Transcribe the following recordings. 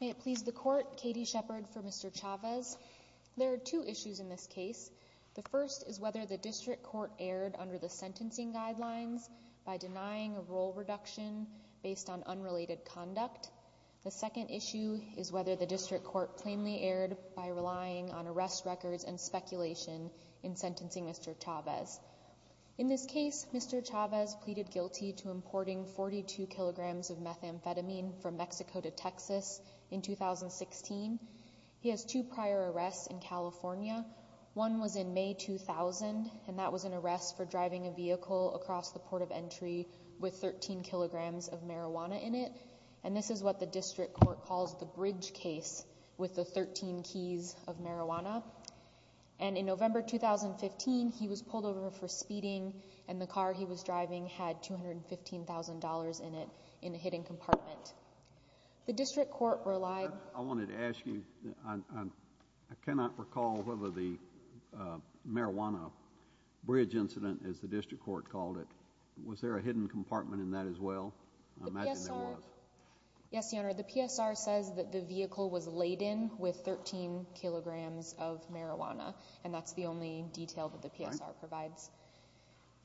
May it please the court, Katie Shepherd for Mr. Chavez. There are two issues in this case. The first is whether the district court erred under the sentencing guidelines by denying a role reduction based on unrelated conduct. The second issue is whether the district court plainly erred by relying on arrest records and speculation in sentencing Mr. Chavez. In this case, Mr. Chavez pleaded guilty to importing 42 kilograms of methamphetamine from Mexico to Texas in 2016. He has two prior arrests in California. One was in May 2000 and that was an arrest for driving a vehicle across the port of entry with 13 kilograms of marijuana in it. And this is what the district court calls the bridge case with the 13 keys of marijuana. And in November 2015, he was pulled over for speeding and the car he was driving had $215,000 in it in a hidden compartment. The district court relied... I wanted to ask you, I cannot recall whether the marijuana bridge incident, as the district court called it, was there a hidden compartment in that as well? I imagine there was. Yes, Your Honor. The PSR says that the vehicle was laden with 13 kilograms of marijuana and that's the only detail that the PSR provides.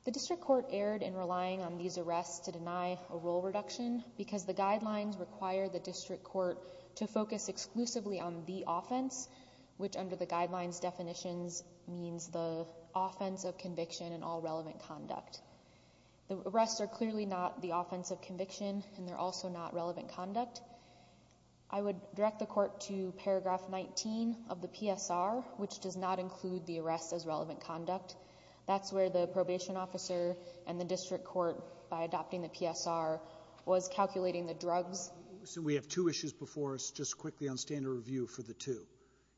The district court erred in relying on these arrests to deny a rule reduction because the guidelines require the district court to focus exclusively on the offense, which under the guidelines definitions means the offense of conviction and all relevant conduct. The arrests are clearly not the offense of conviction and they're also not relevant conduct. I would direct the court to paragraph 19 of the PSR, which does not include the arrests as relevant conduct. That's where the probation officer and the district court, by adopting the PSR, was calculating the drugs. So we have two issues before us. Just quickly on standard review for the two.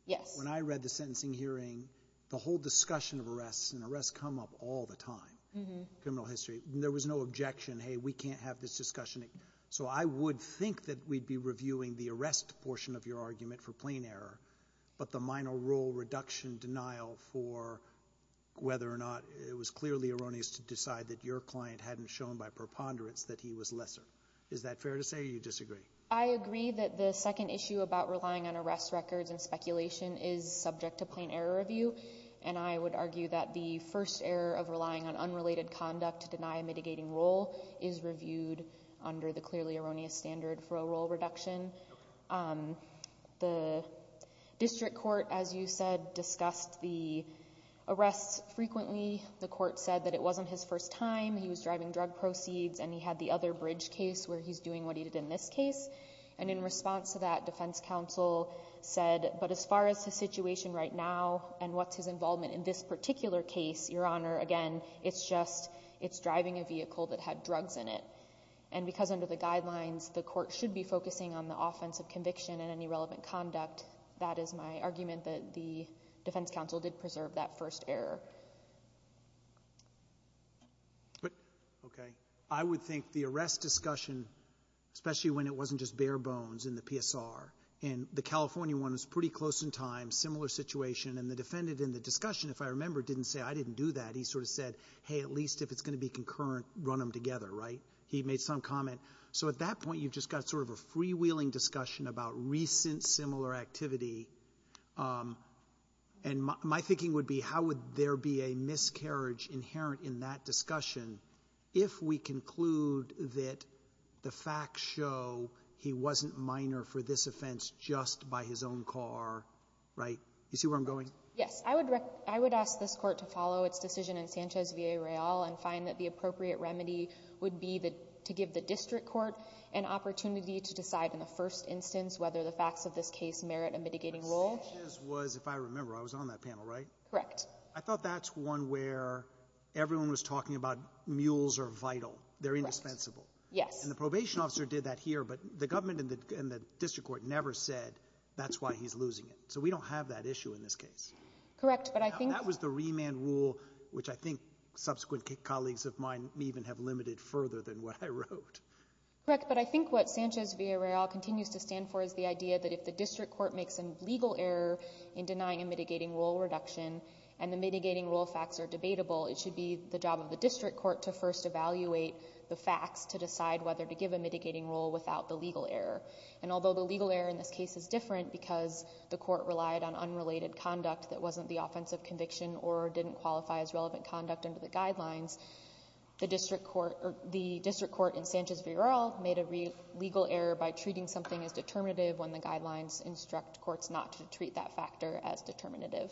Yes. When I read the sentencing hearing, the whole discussion of arrests, and arrests come up all the time in criminal history. There was no objection. Hey, we can't have this discussion. So I would think that we'd be reviewing the arrest portion of your argument for plain error, but the minor rule reduction denial for whether or not it was clearly erroneous to decide that your client hadn't shown by preponderance that he was lesser. Is that fair to say or you disagree? I agree that the second issue about relying on arrest records and speculation is subject to plain error review, and I would argue that the first error of relying on unrelated conduct to deny a mitigating role is reviewed under the clearly erroneous standard for a role reduction. The district court, as you said, discussed the arrests frequently. The court said that it wasn't his first time, he was driving drug proceeds, and he had the other bridge case where he's doing what he did in this case. And in response to that, defense counsel said, but as far as the situation right now and what's his involvement in this particular case, Your Honor, again, it's just it's driving a vehicle that had drugs in it. And because under the guidelines, the court should be focusing on the offense of conviction and any relevant conduct, that is my argument that the defense counsel did preserve that first error. But, okay. I would think the arrest discussion, especially when it wasn't just bare bones in the PSR, and the California one was pretty close in time, similar situation, and the defendant in the discussion, if I remember, didn't say, I didn't do that. He sort of said, hey, at least if it's going to be concurrent, run them together, right? He made some comment. So at that point, you've just got sort of a freewheeling discussion about recent similar activity. And my thinking would be, how would there be a miscarriage inherent in that discussion if we conclude that the facts show he wasn't minor for this offense just by his own car, right? Do you see where I'm going? Yes. I would ask this Court to follow its decision in Sanchez v. Arreal and find that the appropriate remedy would be to give the district court an opportunity to decide in the first instance whether the facts of this case merit a mitigating role. But Sanchez was, if I remember, I was on that panel, right? Correct. I thought that's one where everyone was talking about mules are vital. They're indispensable. Yes. And the probation officer did that here, but the government and the district court never said that's why he's losing it. So we don't have that issue in this case. Correct. But I think— That was the remand rule, which I think subsequent colleagues of mine even have limited further than what I wrote. Correct. But I think what Sanchez v. Arreal continues to stand for is the idea that if the district court makes a legal error in denying a mitigating role reduction and the mitigating role facts are debatable, it should be the job of the district court to first evaluate the facts to decide whether to give a mitigating role without the legal error. And although the legal error in this case is different because the court relied on unrelated conduct that wasn't the offensive conviction or didn't qualify as relevant conduct under the guidelines, the district court in Sanchez v. Arreal made a legal error by treating something as determinative when the guidelines instruct courts not to treat that factor as determinative.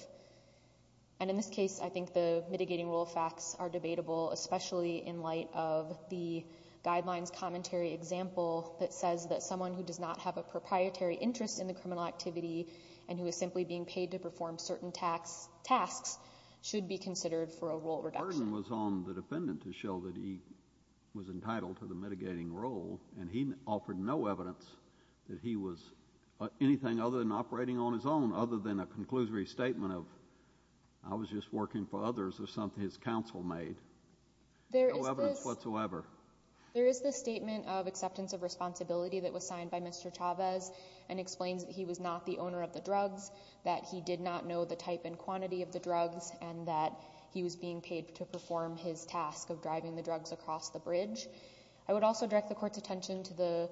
And in this case, I think the mitigating role facts are debatable, especially in light of the guidelines commentary example that says that someone who does not have a proprietary interest in the criminal activity and who is simply being paid to perform certain tasks should be considered for a role reduction. The burden was on the defendant to show that he was entitled to the mitigating role and he offered no evidence that he was anything other than operating on his own other than a conclusory statement of I was just working for others or something his counsel made. There is no evidence whatsoever. There is this statement of acceptance of responsibility that was signed by Mr. Chavez and explains that he was not the owner of the drugs, that he did not know the type and quantity of the drugs and that he was being paid to perform his task of driving the drugs across the bridge. I would also direct the court's attention to the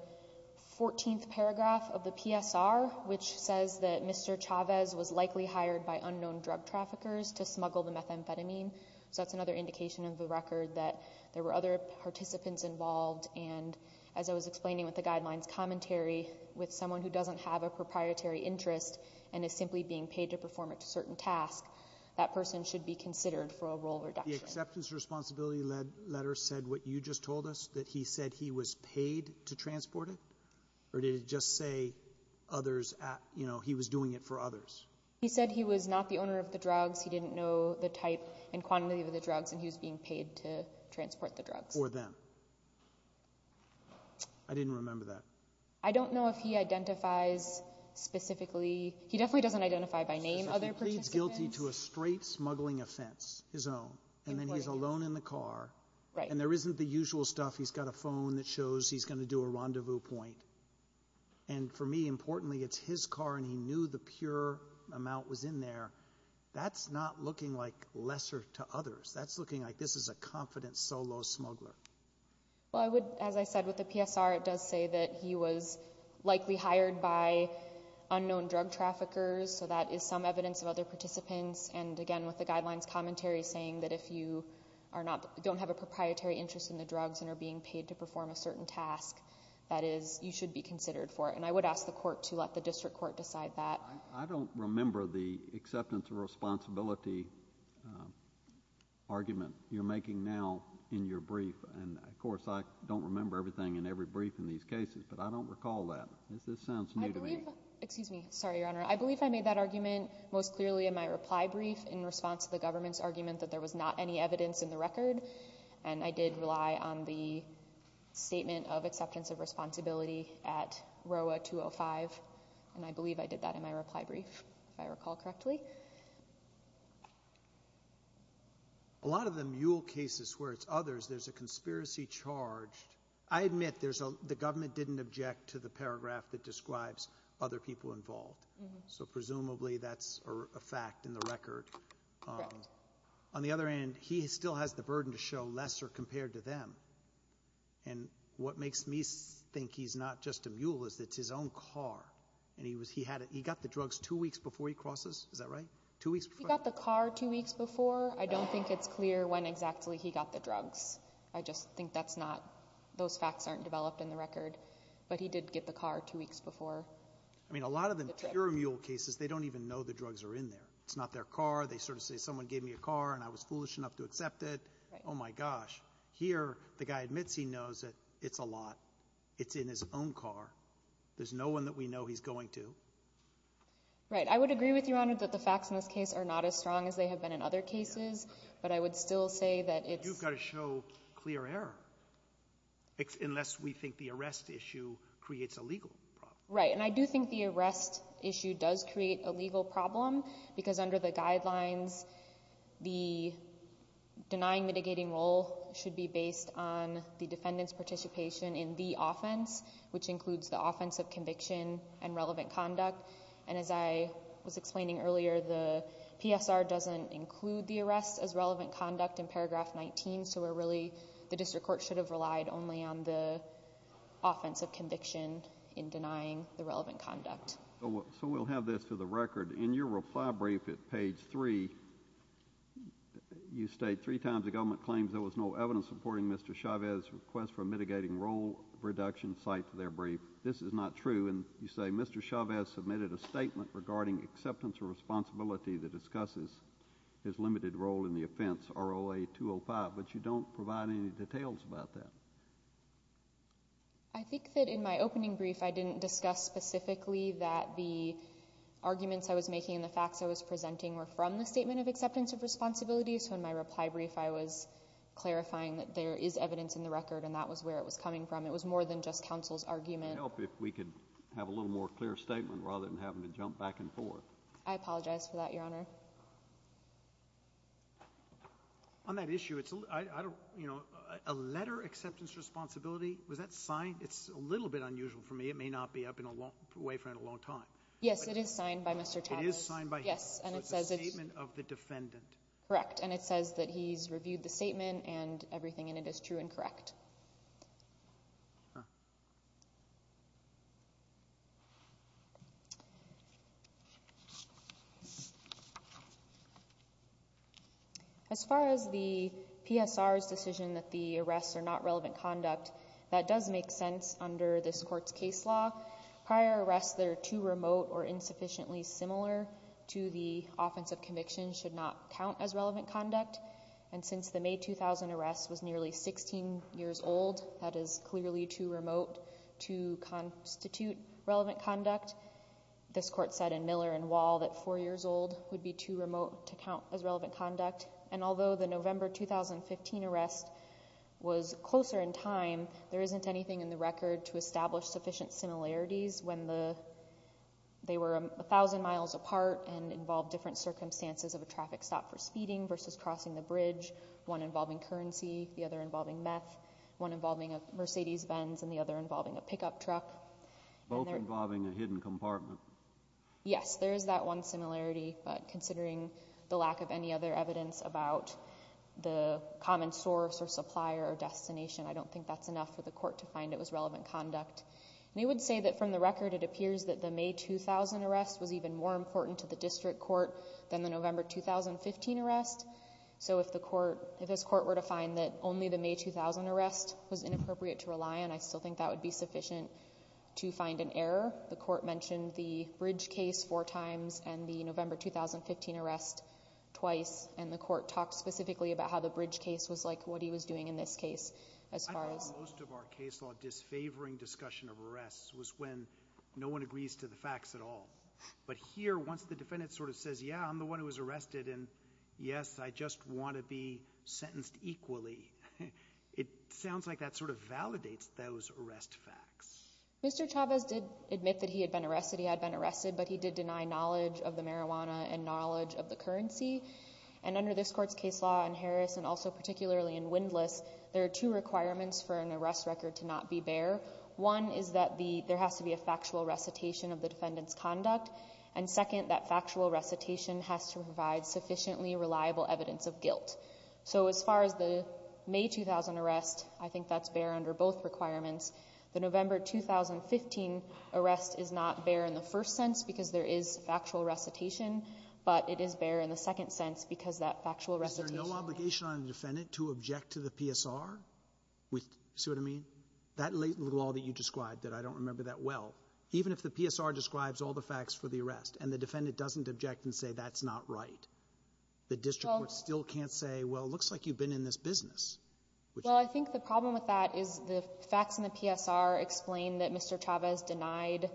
14th paragraph of the PSR, which says that Mr. Chavez was likely hired by unknown drug traffickers to smuggle the methamphetamine. So that's another indication of the record that there were other participants involved and as I was explaining with the guidelines commentary, with someone who doesn't have a proprietary interest and is simply being paid to perform a certain task, that person should be considered for a role reduction. The acceptance of responsibility letter said what you just told us, that he said he was paid to transport it or did it just say others, you know, he was doing it for others? He said he was not the owner of the drugs, he didn't know the type and quantity of the drugs and he was being paid to transport the drugs. For them. I didn't remember that. I don't know if he identifies specifically, he definitely doesn't identify by name other participants. He pleads guilty to a straight smuggling offense, his own, and then he's alone in the car and there isn't the usual stuff, he's got a phone that shows he's going to do a rendezvous point and for me, importantly, it's his car and he knew the pure amount was in there. That's not looking like lesser to others, that's looking like this is a confident solo smuggler. Well, I would, as I said with the PSR, it does say that he was likely hired by unknown drug traffickers, so that is some evidence of other participants and again, with the guidelines commentary saying that if you are not, don't have a proprietary interest in the drugs and are being paid to perform a certain task, that is, you should be considered for it and I would ask the court to let the district court decide that. I don't remember the acceptance of responsibility argument you're making now in your brief and of course, I don't remember everything in every brief in these cases, but I don't recall that. This sounds new to me. Excuse me. Sorry, Your Honor. I believe I made that argument most clearly in my reply brief in response to the government's argument that there was not any evidence in the record and I did rely on the statement of acceptance of responsibility at ROA 205 and I believe I did that in my reply brief, if I recall correctly. A lot of the mule cases where it's others, there's a conspiracy charged. I admit, the government didn't object to the paragraph that describes other people involved, so presumably that's a fact in the record. Correct. On the other hand, he still has the burden to show lesser compared to them and what makes me think he's not just a mule is that it's his own car and he got the drugs two weeks before he crosses. Is that right? Two weeks before? He got the car two weeks before. I don't think it's clear when exactly he got the drugs. I just think those facts aren't developed in the record, but he did get the car two weeks before. I mean, a lot of the pure mule cases, they don't even know the drugs are in there. It's not their car. They sort of say, someone gave me a car and I was foolish enough to accept it. Oh, my gosh. Here, the guy admits he knows it. It's a lot. It's in his own car. There's no one that we know he's going to. Right. I would agree with you, Your Honor, that the facts in this case are not as strong as they have been in other cases, but I would still say that it's- You've got to show clear error unless we think the arrest issue creates a legal problem. Right. And I do think the arrest issue does create a legal problem because under the guidelines, the denying mitigating role should be based on the defendant's participation in the offense, which includes the offense of conviction and relevant conduct. And as I was explaining earlier, the PSR doesn't include the arrest as relevant conduct in paragraph 19. So we're really, the district court should have relied only on the offense of conviction in denying the relevant conduct. So we'll have this to the record. In your reply brief at page 3, you state three times the government claims there was no evidence supporting Mr. Chavez's request for mitigating role reduction cited to their brief. This is not true. And you say Mr. Chavez submitted a statement regarding acceptance or responsibility that discusses his limited role in the offense, ROA 205, but you don't provide any details about that. I think that in my opening brief, I didn't discuss specifically that the arguments I was making and the facts I was presenting were from the statement of acceptance of responsibility. So in my reply brief, I was clarifying that there is evidence in the record and that was where it was coming from. It was more than just counsel's argument. It would help if we could have a little more clear statement rather than having to jump back and forth. I apologize for that, Your Honor. On that issue, a letter acceptance responsibility, was that signed? It's a little bit unusual for me. It may not be. I've been away for a long time. Yes, it is signed by Mr. Chavez. It is signed by him? Yes. So it's a statement of the defendant? Correct. And it says that he's reviewed the statement and everything in it is true and correct. As far as the PSR's decision that the arrests are not relevant conduct, that does make sense under this court's case law. Prior arrests that are too remote or insufficiently similar to the offense of conviction should not count as relevant conduct. And since the May 2000 arrest was nearly 16 years old, that is clearly too remote to constitute relevant conduct. This court said in Miller and Wall that four years old would be too remote to count as relevant conduct. And although the November 2015 arrest was closer in time, there isn't anything in the record to establish sufficient similarities when they were 1,000 miles apart and involved different circumstances of a traffic stop for speeding versus crossing the bridge, one involving currency, the other involving meth, one involving a Mercedes-Benz, and the other involving a pickup truck. Both involving a hidden compartment. Yes, there is that one similarity, but considering the lack of any other evidence about the common source or supplier or destination, I don't think that's enough for the court to find it was relevant conduct. And it would say that from the record, it appears that the May 2000 arrest was even more important to the district court than the November 2015 arrest. So if the court, if this court were to find that only the May 2000 arrest was inappropriate to rely on, I still think that would be sufficient to find an error. The court mentioned the bridge case four times and the November 2015 arrest twice, and the court talked specifically about how the bridge case was like what he was doing in this case as far as. I thought most of our case law disfavoring discussion of arrests was when no one agrees to the facts at all. But here, once the defendant sort of says, yeah, I'm the one who was arrested, and yes, I just want to be sentenced equally, it sounds like that sort of validates those arrest facts. Mr. Chavez did admit that he had been arrested, he had been arrested, but he did deny knowledge of the marijuana and knowledge of the currency. And under this court's case law in Harris, and also particularly in Windlass, there are two requirements for an arrest record to not be bare. One is that there has to be a factual recitation of the defendant's conduct, and second, that factual recitation has to provide sufficiently reliable evidence of guilt. So as far as the May 2000 arrest, I think that's bare under both requirements. The November 2015 arrest is not bare in the first sense because there is factual recitation, but it is bare in the second sense because that factual recitation Is there no obligation on the defendant to object to the PSR? See what I mean? That law that you described that I don't remember that well, even if the PSR describes all the facts for the arrest and the defendant doesn't object and say that's not right, the district court still can't say, well, it looks like you've been in this business. Well, I think the problem with that is the facts in the PSR explain that Mr. Chavez denied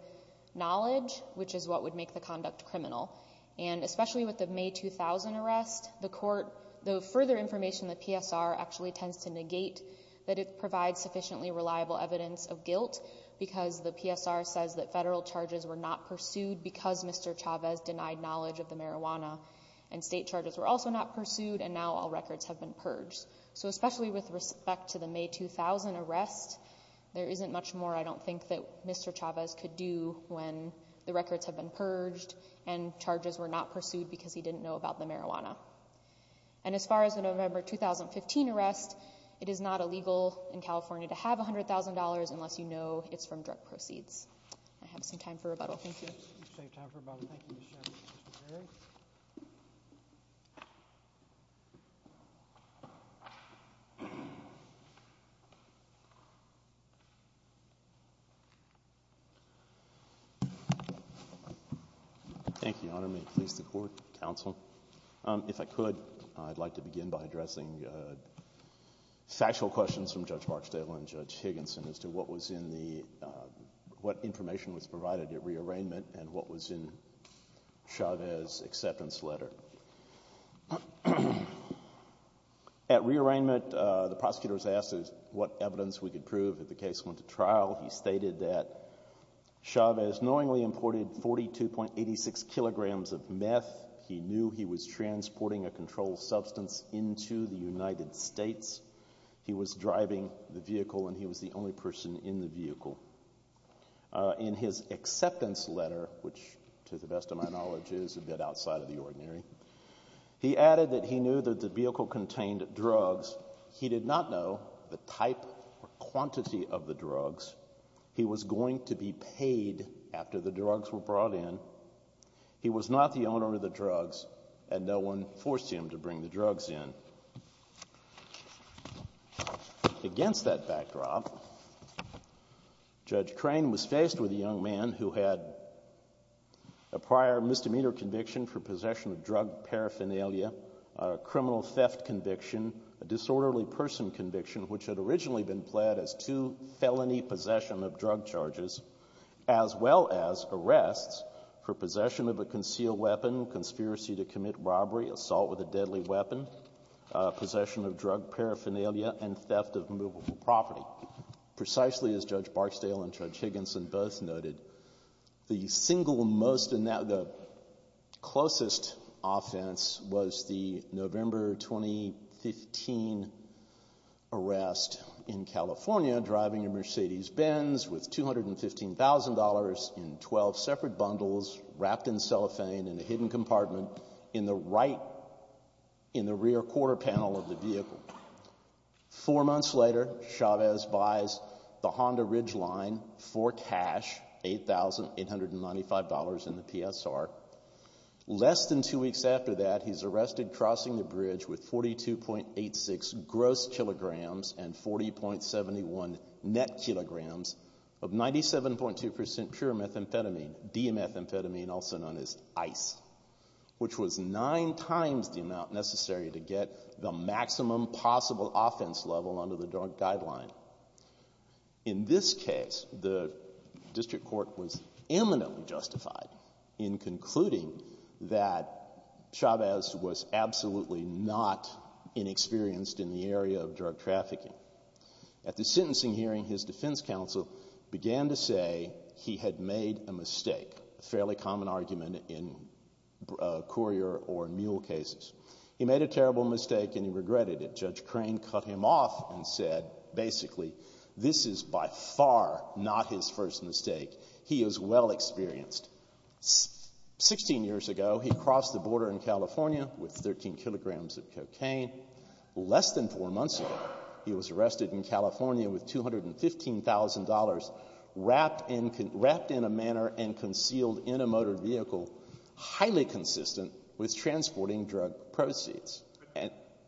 knowledge, which is what would make the conduct criminal. And especially with the May 2000 arrest, the court, the further information the PSR actually tends to negate that it provides sufficiently reliable evidence of guilt because the PSR says that federal charges were not pursued because Mr. Chavez denied knowledge of the marijuana and state charges were also not pursued and now all records have been purged. So especially with respect to the May 2000 arrest, there isn't much more I don't think that Mr. Chavez could do when the records have been purged and charges were not pursued because he didn't know about the marijuana. And as far as the November 2015 arrest, it is not illegal in California to have $100,000 unless you know it's from drug proceeds. I have some time for rebuttal. Thank you. You have time for rebuttal. Thank you, Mr. Chavez. Mr. Berry? Thank you, Your Honor. May it please the court, counsel. If I could, I'd like to begin by addressing factual questions from Judge Barksdale and Judge Higginson as to what was in the, what information was provided at re-arraignment and what was in Chavez's acceptance letter. At re-arraignment, the prosecutor was asked what evidence we could prove if the case went to trial. He stated that Chavez knowingly imported 42.86 kilograms of meth. He knew he was transporting a controlled substance into the United States. He was driving the vehicle and he was the only person in the vehicle. In his acceptance letter, which to the best of my knowledge is a bit outside of the ordinary, he added that he knew that the vehicle contained drugs. He did not know the type or quantity of the drugs. He was going to be paid after the drugs were brought in. He was not the owner of the drugs and no one forced him to bring the drugs in. Against that backdrop, Judge Crane was faced with a young man who had a prior misdemeanor conviction for possession of drug paraphernalia, a criminal theft conviction, a disorderly person conviction, which had originally been pled as two felony possession of drug charges, as well as arrests for possession of a concealed weapon, conspiracy to commit robbery, assault with a deadly weapon, possession of drug paraphernalia, and theft of movable property. Precisely as Judge Barksdale and Judge Higginson both noted, the single most in that the closest offense was the November 2015 arrest in California driving a Mercedes-Benz with $215,000 in 12 separate bundles wrapped in cellophane in a hidden compartment in the right, in the rear quarter panel of the vehicle. Four months later, Chavez buys the Honda Ridgeline for cash, $8,895 in the PSR. Less than two weeks after that, he's arrested crossing the bridge with 42.86 gross kilograms and 40.71 net kilograms of 97.2% pure methamphetamine, D-methamphetamine, also known as ICE, which was nine times the amount necessary to get the maximum possible offense level under the drug guideline. In this case, the district court was eminently justified in concluding that Chavez was trafficking. At the sentencing hearing, his defense counsel began to say he had made a mistake, a fairly common argument in courier or mule cases. He made a terrible mistake and he regretted it. Judge Crane cut him off and said, basically, this is by far not his first mistake. He is well experienced. Sixteen years ago, he crossed the border in California with 13 kilograms of cocaine. Less than four months ago, he was arrested in California with $215,000 wrapped in a manner and concealed in a motor vehicle, highly consistent with transporting drug proceeds.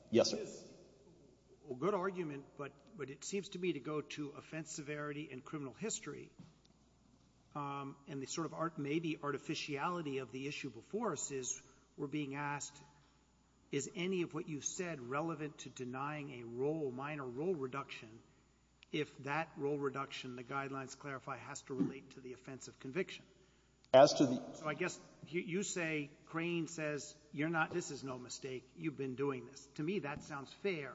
Yes, sir. Well, good argument, but it seems to me to go to offense severity and criminal history, and the sort of maybe artificiality of the issue before us is we're being asked, is any of what you said relevant to denying a role, minor role reduction, if that role reduction, the guidelines clarify, has to relate to the offense of conviction? As to the ---- So I guess you say, Crane says, you're not, this is no mistake. You've been doing this. To me, that sounds fair.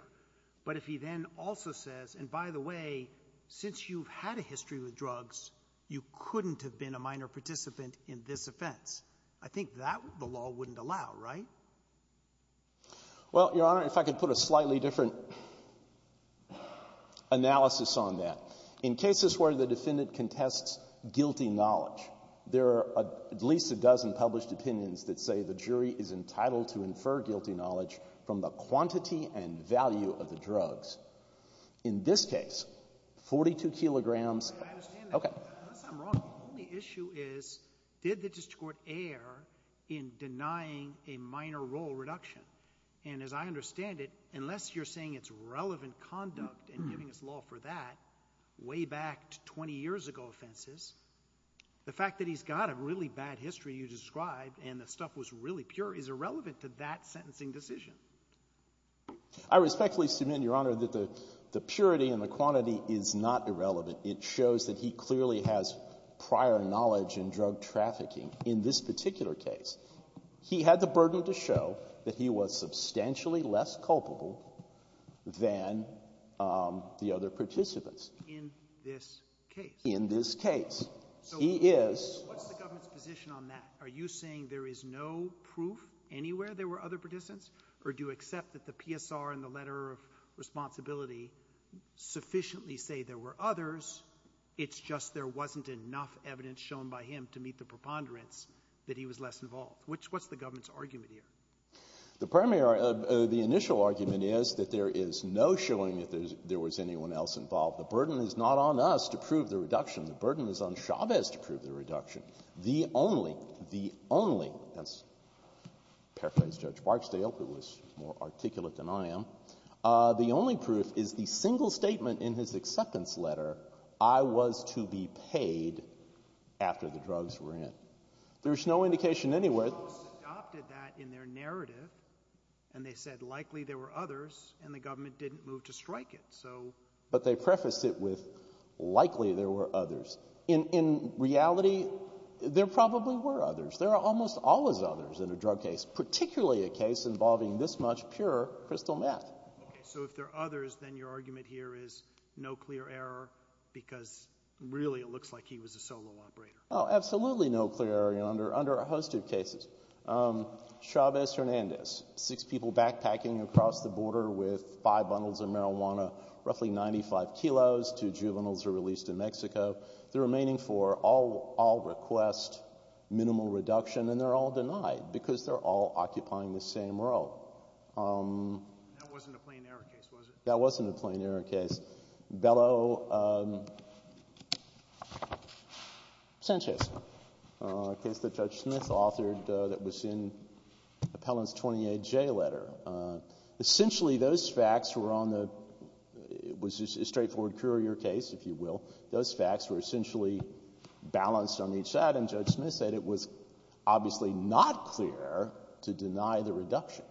But if he then also says, and by the way, since you've had a history with drugs, you couldn't have been a minor participant in this offense. I think that the law wouldn't allow, right? Well, Your Honor, if I could put a slightly different analysis on that. In cases where the defendant contests guilty knowledge, there are at least a dozen published opinions that say the jury is entitled to infer guilty knowledge from the quantity and value of the drugs. In this case, 42 kilograms. I understand that. Okay. Unless I'm wrong, the only issue is, did the district court err in denying a minor role reduction? And as I understand it, unless you're saying it's relevant conduct and giving us law for that, way back to 20 years ago offenses, the fact that he's got a really bad history, you described, and the stuff was really pure, is irrelevant to that sentencing decision. I respectfully submit, Your Honor, that the purity and the quantity is not irrelevant. It shows that he clearly has prior knowledge in drug trafficking. In this particular case, he had the burden to show that he was substantially less culpable than the other participants. In this case? In this case. He is ---- So what's the government's position on that? Are you saying there is no proof anywhere there were other participants, or do you accept that the PSR and the letter of responsibility sufficiently say there were others, it's just there wasn't enough evidence shown by him to meet the preponderance that he was less involved? What's the government's argument here? The primary or the initial argument is that there is no showing that there was anyone else involved. The burden is not on us to prove the reduction. The burden is on Chavez to prove the reduction. The only ---- the only ---- as paraphrased Judge Barksdale, who was more articulate than I am, the only proof is the single statement in his acceptance letter, I was to be paid after the drugs were in. There's no indication anywhere ---- The courts adopted that in their narrative, and they said likely there were others, and the government didn't move to strike it. So ---- But they prefaced it with likely there were others. In reality, there probably were others. There are almost always others in a drug case, particularly a case involving this much pure crystal meth. Okay. So if there are others, then your argument here is no clear error because really it looks like he was a solo operator. Oh, absolutely no clear error under a host of cases. Chavez-Hernandez, six people backpacking across the border with five bundles of marijuana, roughly 95 kilos, two juveniles are released to Mexico. The remaining four all request minimal reduction, and they're all denied because they're all occupying the same role. That wasn't a plain error case, was it? That wasn't a plain error case. Bellow-Sanchez, a case that Judge Smith authored that was in Appellant's 28J letter. Essentially, those facts were on the ---- it was a straightforward courier case, if you will. Those facts were essentially balanced on each side, and Judge Smith said it was obviously not clear to deny the reduction.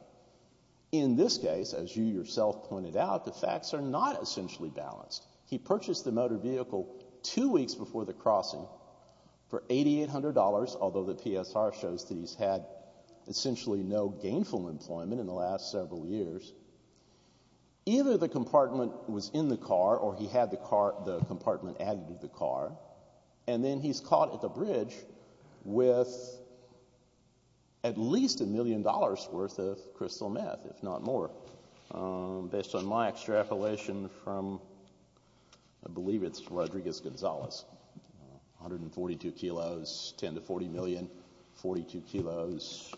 In this case, as you yourself pointed out, the facts are not essentially balanced. He purchased the motor vehicle two weeks before the crossing for $8,800, although the PSR shows that he's had essentially no gainful employment in the last several years. Either the compartment was in the car or he had the compartment added to the car, and then he's caught at the bridge with at least a million dollars' worth of crystal death, if not more. Based on my extrapolation from, I believe it's Rodriguez-Gonzalez, 142 kilos, 10 to 40 million, 42 kilos,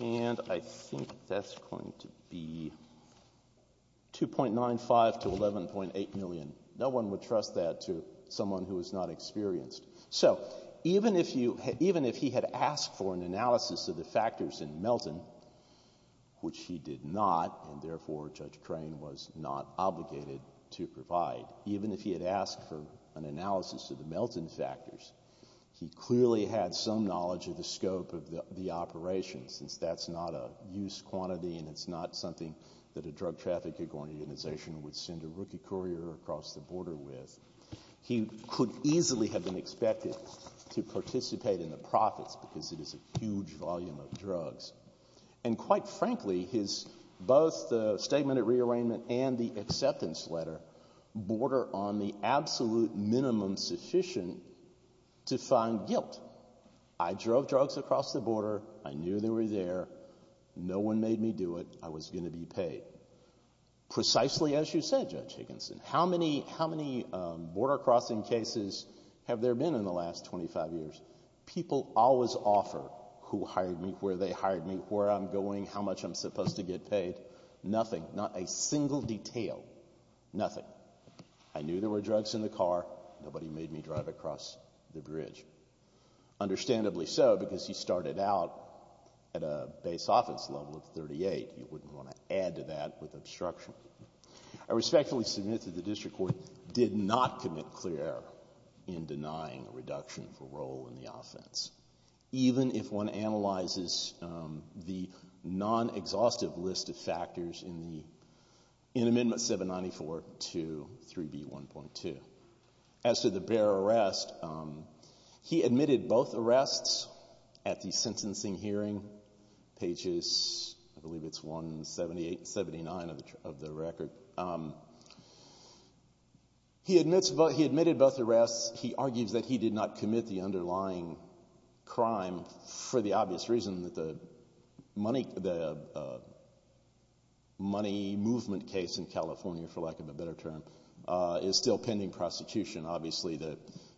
and I think that's going to be 2.95 to 11.8 million. No one would trust that to someone who is not experienced. So even if you had — even if he had asked for an analysis of the factors in Melton, which he did not, and therefore Judge Crane was not obligated to provide, even if he had asked for an analysis of the Melton factors, he clearly had some knowledge of the scope of the operation, since that's not a use quantity and it's not something that a drug-trafficking organization would send a rookie courier across the border with. He could easily have been expected to participate in the profits because it is a huge volume of drugs. And quite frankly, his — both the statement at rearrangement and the acceptance letter border on the absolute minimum sufficient to find guilt. I drove drugs across the border. I knew they were there. I was going to be paid. Precisely as you said, Judge Higginson, how many border-crossing cases have there been in the last 25 years? People always offer who hired me, where they hired me, where I'm going, how much I'm supposed to get paid. Nothing. Not a single detail. Nothing. I knew there were drugs in the car. Nobody made me drive across the bridge. Understandably so, because he started out at a base office level of 38. You wouldn't want to add to that with obstruction. I respectfully submit that the district court did not commit clear error in denying a reduction for role in the offense, even if one analyzes the non-exhaustive list of factors in the — in Amendment 794 to 3B1.2. As to the bear arrest, he admitted both arrests at the sentencing hearing pages — I believe it's 178 and 179 of the record. He admits — he admitted both arrests. He argues that he did not commit the underlying crime for the obvious reason that the money movement case in California, for lack of a better term, is still pending prosecution. Obviously, the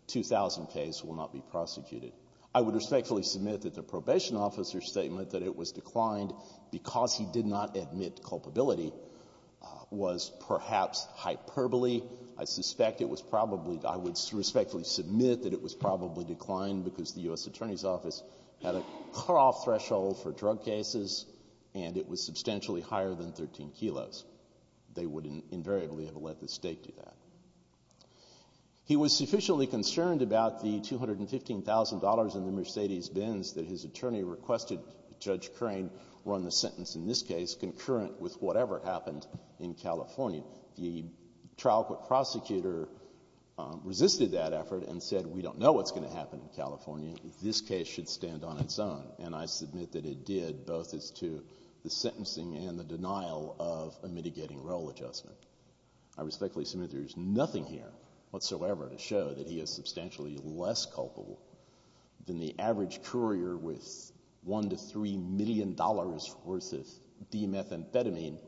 2000 case will not be prosecuted. I would respectfully submit that the probation officer's statement that it was declined because he did not admit culpability was perhaps hyperbole. I suspect it was probably — I would respectfully submit that it was probably declined because the U.S. Attorney's Office had a cutoff threshold for drug cases, and it was substantially higher than 13 kilos. They would invariably have let the state do that. He was sufficiently concerned about the $215,000 in the Mercedes-Benz that his attorney requested Judge Crane run the sentence in this case concurrent with whatever happened in California. The trial court prosecutor resisted that effort and said, we don't know what's going to happen in California. This case should stand on its own. And I submit that it did, both as to the sentencing and the denial of a mitigating role adjustment. I respectfully submit there is nothing here whatsoever to show that he is substantially less culpable than the average courier with $1 to $3 million worth of d-methamphetamine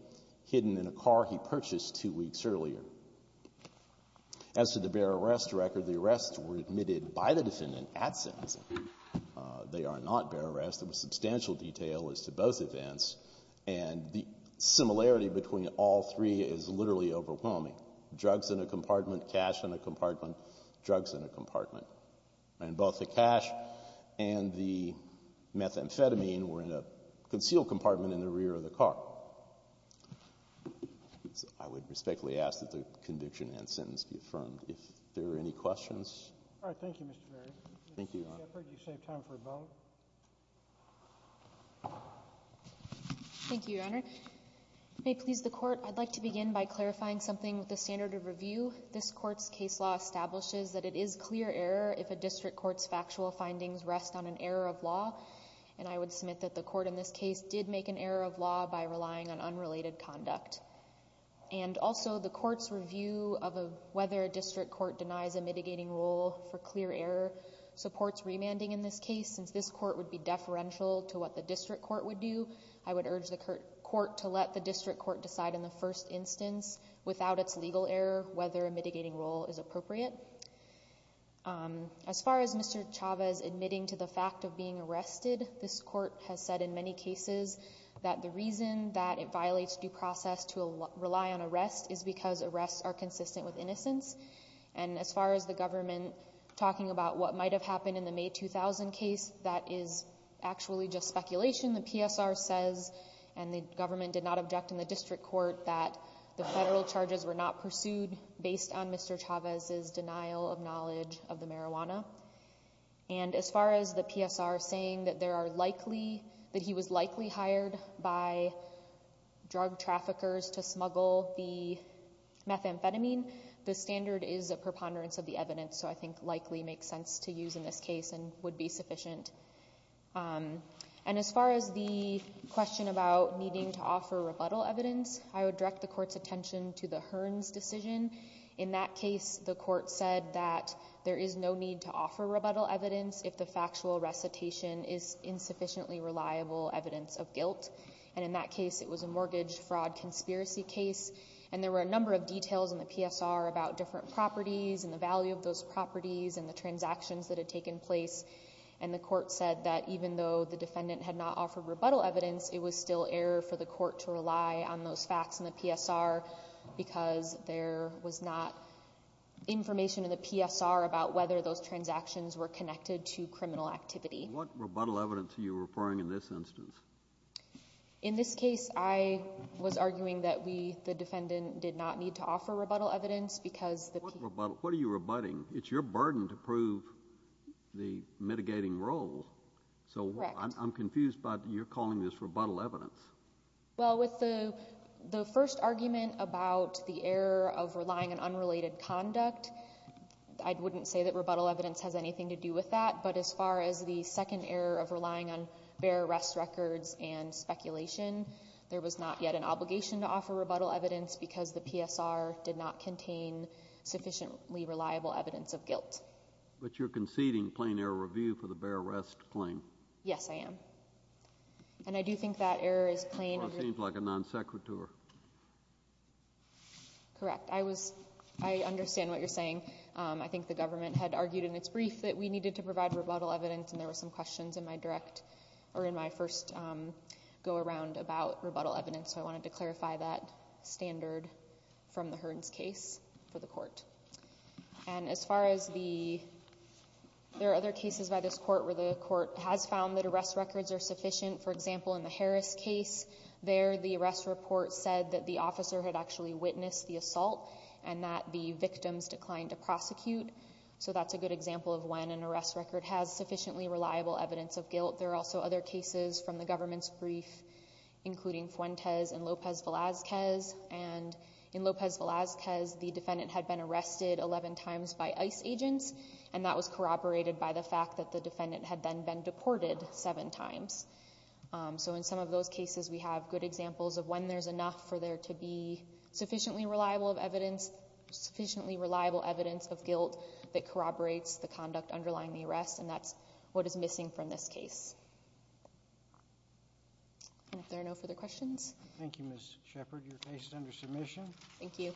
hidden in a car he purchased two weeks earlier. As to the bare arrest record, the arrests were admitted by the defendant at sentencing. They are not bare arrests. There was substantial detail as to both events. And the similarity between all three is literally overwhelming. Drugs in a compartment, cash in a compartment, drugs in a compartment. And both the cash and the methamphetamine were in a concealed compartment in the rear of the car. I would respectfully ask that the conviction and sentence be affirmed. If there are any questions. All right. Thank you, Mr. Berry. Thank you, Your Honor. I heard you saved time for a vote. Thank you, Your Honor. May it please the court, I'd like to begin by clarifying something with the standard of review. This court's case law establishes that it is clear error if a district court's factual findings rest on an error of law. And I would submit that the court in this case did make an error of law by relying on unrelated conduct. And also, the court's review of whether a district court denies a mitigating role for clear error supports remanding in this case. Since this court would be deferential to what the district court would do, I would urge court to let the district court decide in the first instance without its legal error whether a mitigating role is appropriate. As far as Mr. Chavez admitting to the fact of being arrested, this court has said in many cases that the reason that it violates due process to rely on arrest is because arrests are consistent with innocence. And as far as the government talking about what might have happened in the May 2000 case, that is actually just speculation. The PSR says and the government did not object in the district court that the federal charges were not pursued based on Mr. Chavez's denial of knowledge of the marijuana. And as far as the PSR saying that there are likely, that he was likely hired by drug traffickers to smuggle the methamphetamine, the standard is a preponderance of the evidence. So I think likely makes sense to use in this case and would be sufficient. And as far as the question about needing to offer rebuttal evidence, I would direct the court's attention to the Hearns decision. In that case, the court said that there is no need to offer rebuttal evidence if the factual recitation is insufficiently reliable evidence of guilt. And in that case, it was a mortgage fraud conspiracy case. And there were a number of details in the PSR about different properties and the value of those properties and the transactions that had taken place. And the court said that even though the defendant had not offered rebuttal evidence, it was still error for the court to rely on those facts in the PSR because there was not information in the PSR about whether those transactions were connected to criminal activity. What rebuttal evidence are you referring in this instance? In this case, I was arguing that we, the defendant, did not need to offer rebuttal evidence because the... What rebuttal? What are you rebutting? It's your burden to prove the mitigating role. Correct. So I'm confused by your calling this rebuttal evidence. Well, with the first argument about the error of relying on unrelated conduct, I wouldn't say that rebuttal evidence has anything to do with that. But as far as the second error of relying on bare arrest records and speculation, there was not yet an obligation to offer rebuttal evidence because the PSR did not contain sufficiently reliable evidence of guilt. But you're conceding plain error review for the bare arrest claim? Yes, I am. And I do think that error is plain... Well, it seems like a non sequitur. Correct. I understand what you're saying. I think the government had argued in its brief that we needed to provide rebuttal evidence, and there were some questions in my first go-around about rebuttal evidence. I wanted to clarify that standard from the Hearns case for the court. And as far as the... There are other cases by this court where the court has found that arrest records are sufficient. For example, in the Harris case, there the arrest report said that the officer had actually witnessed the assault and that the victims declined to prosecute. So that's a good example of when an arrest record has sufficiently reliable evidence of guilt. There are also other cases from the government's brief, including Fuentes and Lopez-Velasquez. And in Lopez-Velasquez, the defendant had been arrested 11 times by ICE agents, and that was corroborated by the fact that the defendant had then been deported seven times. So in some of those cases, we have good examples of when there's enough for there to be sufficiently reliable evidence of guilt that corroborates the conduct underlying the arrest. And that's what is missing from this case. And if there are no further questions... Thank you, Ms. Shepard. Your case is under submission. Thank you.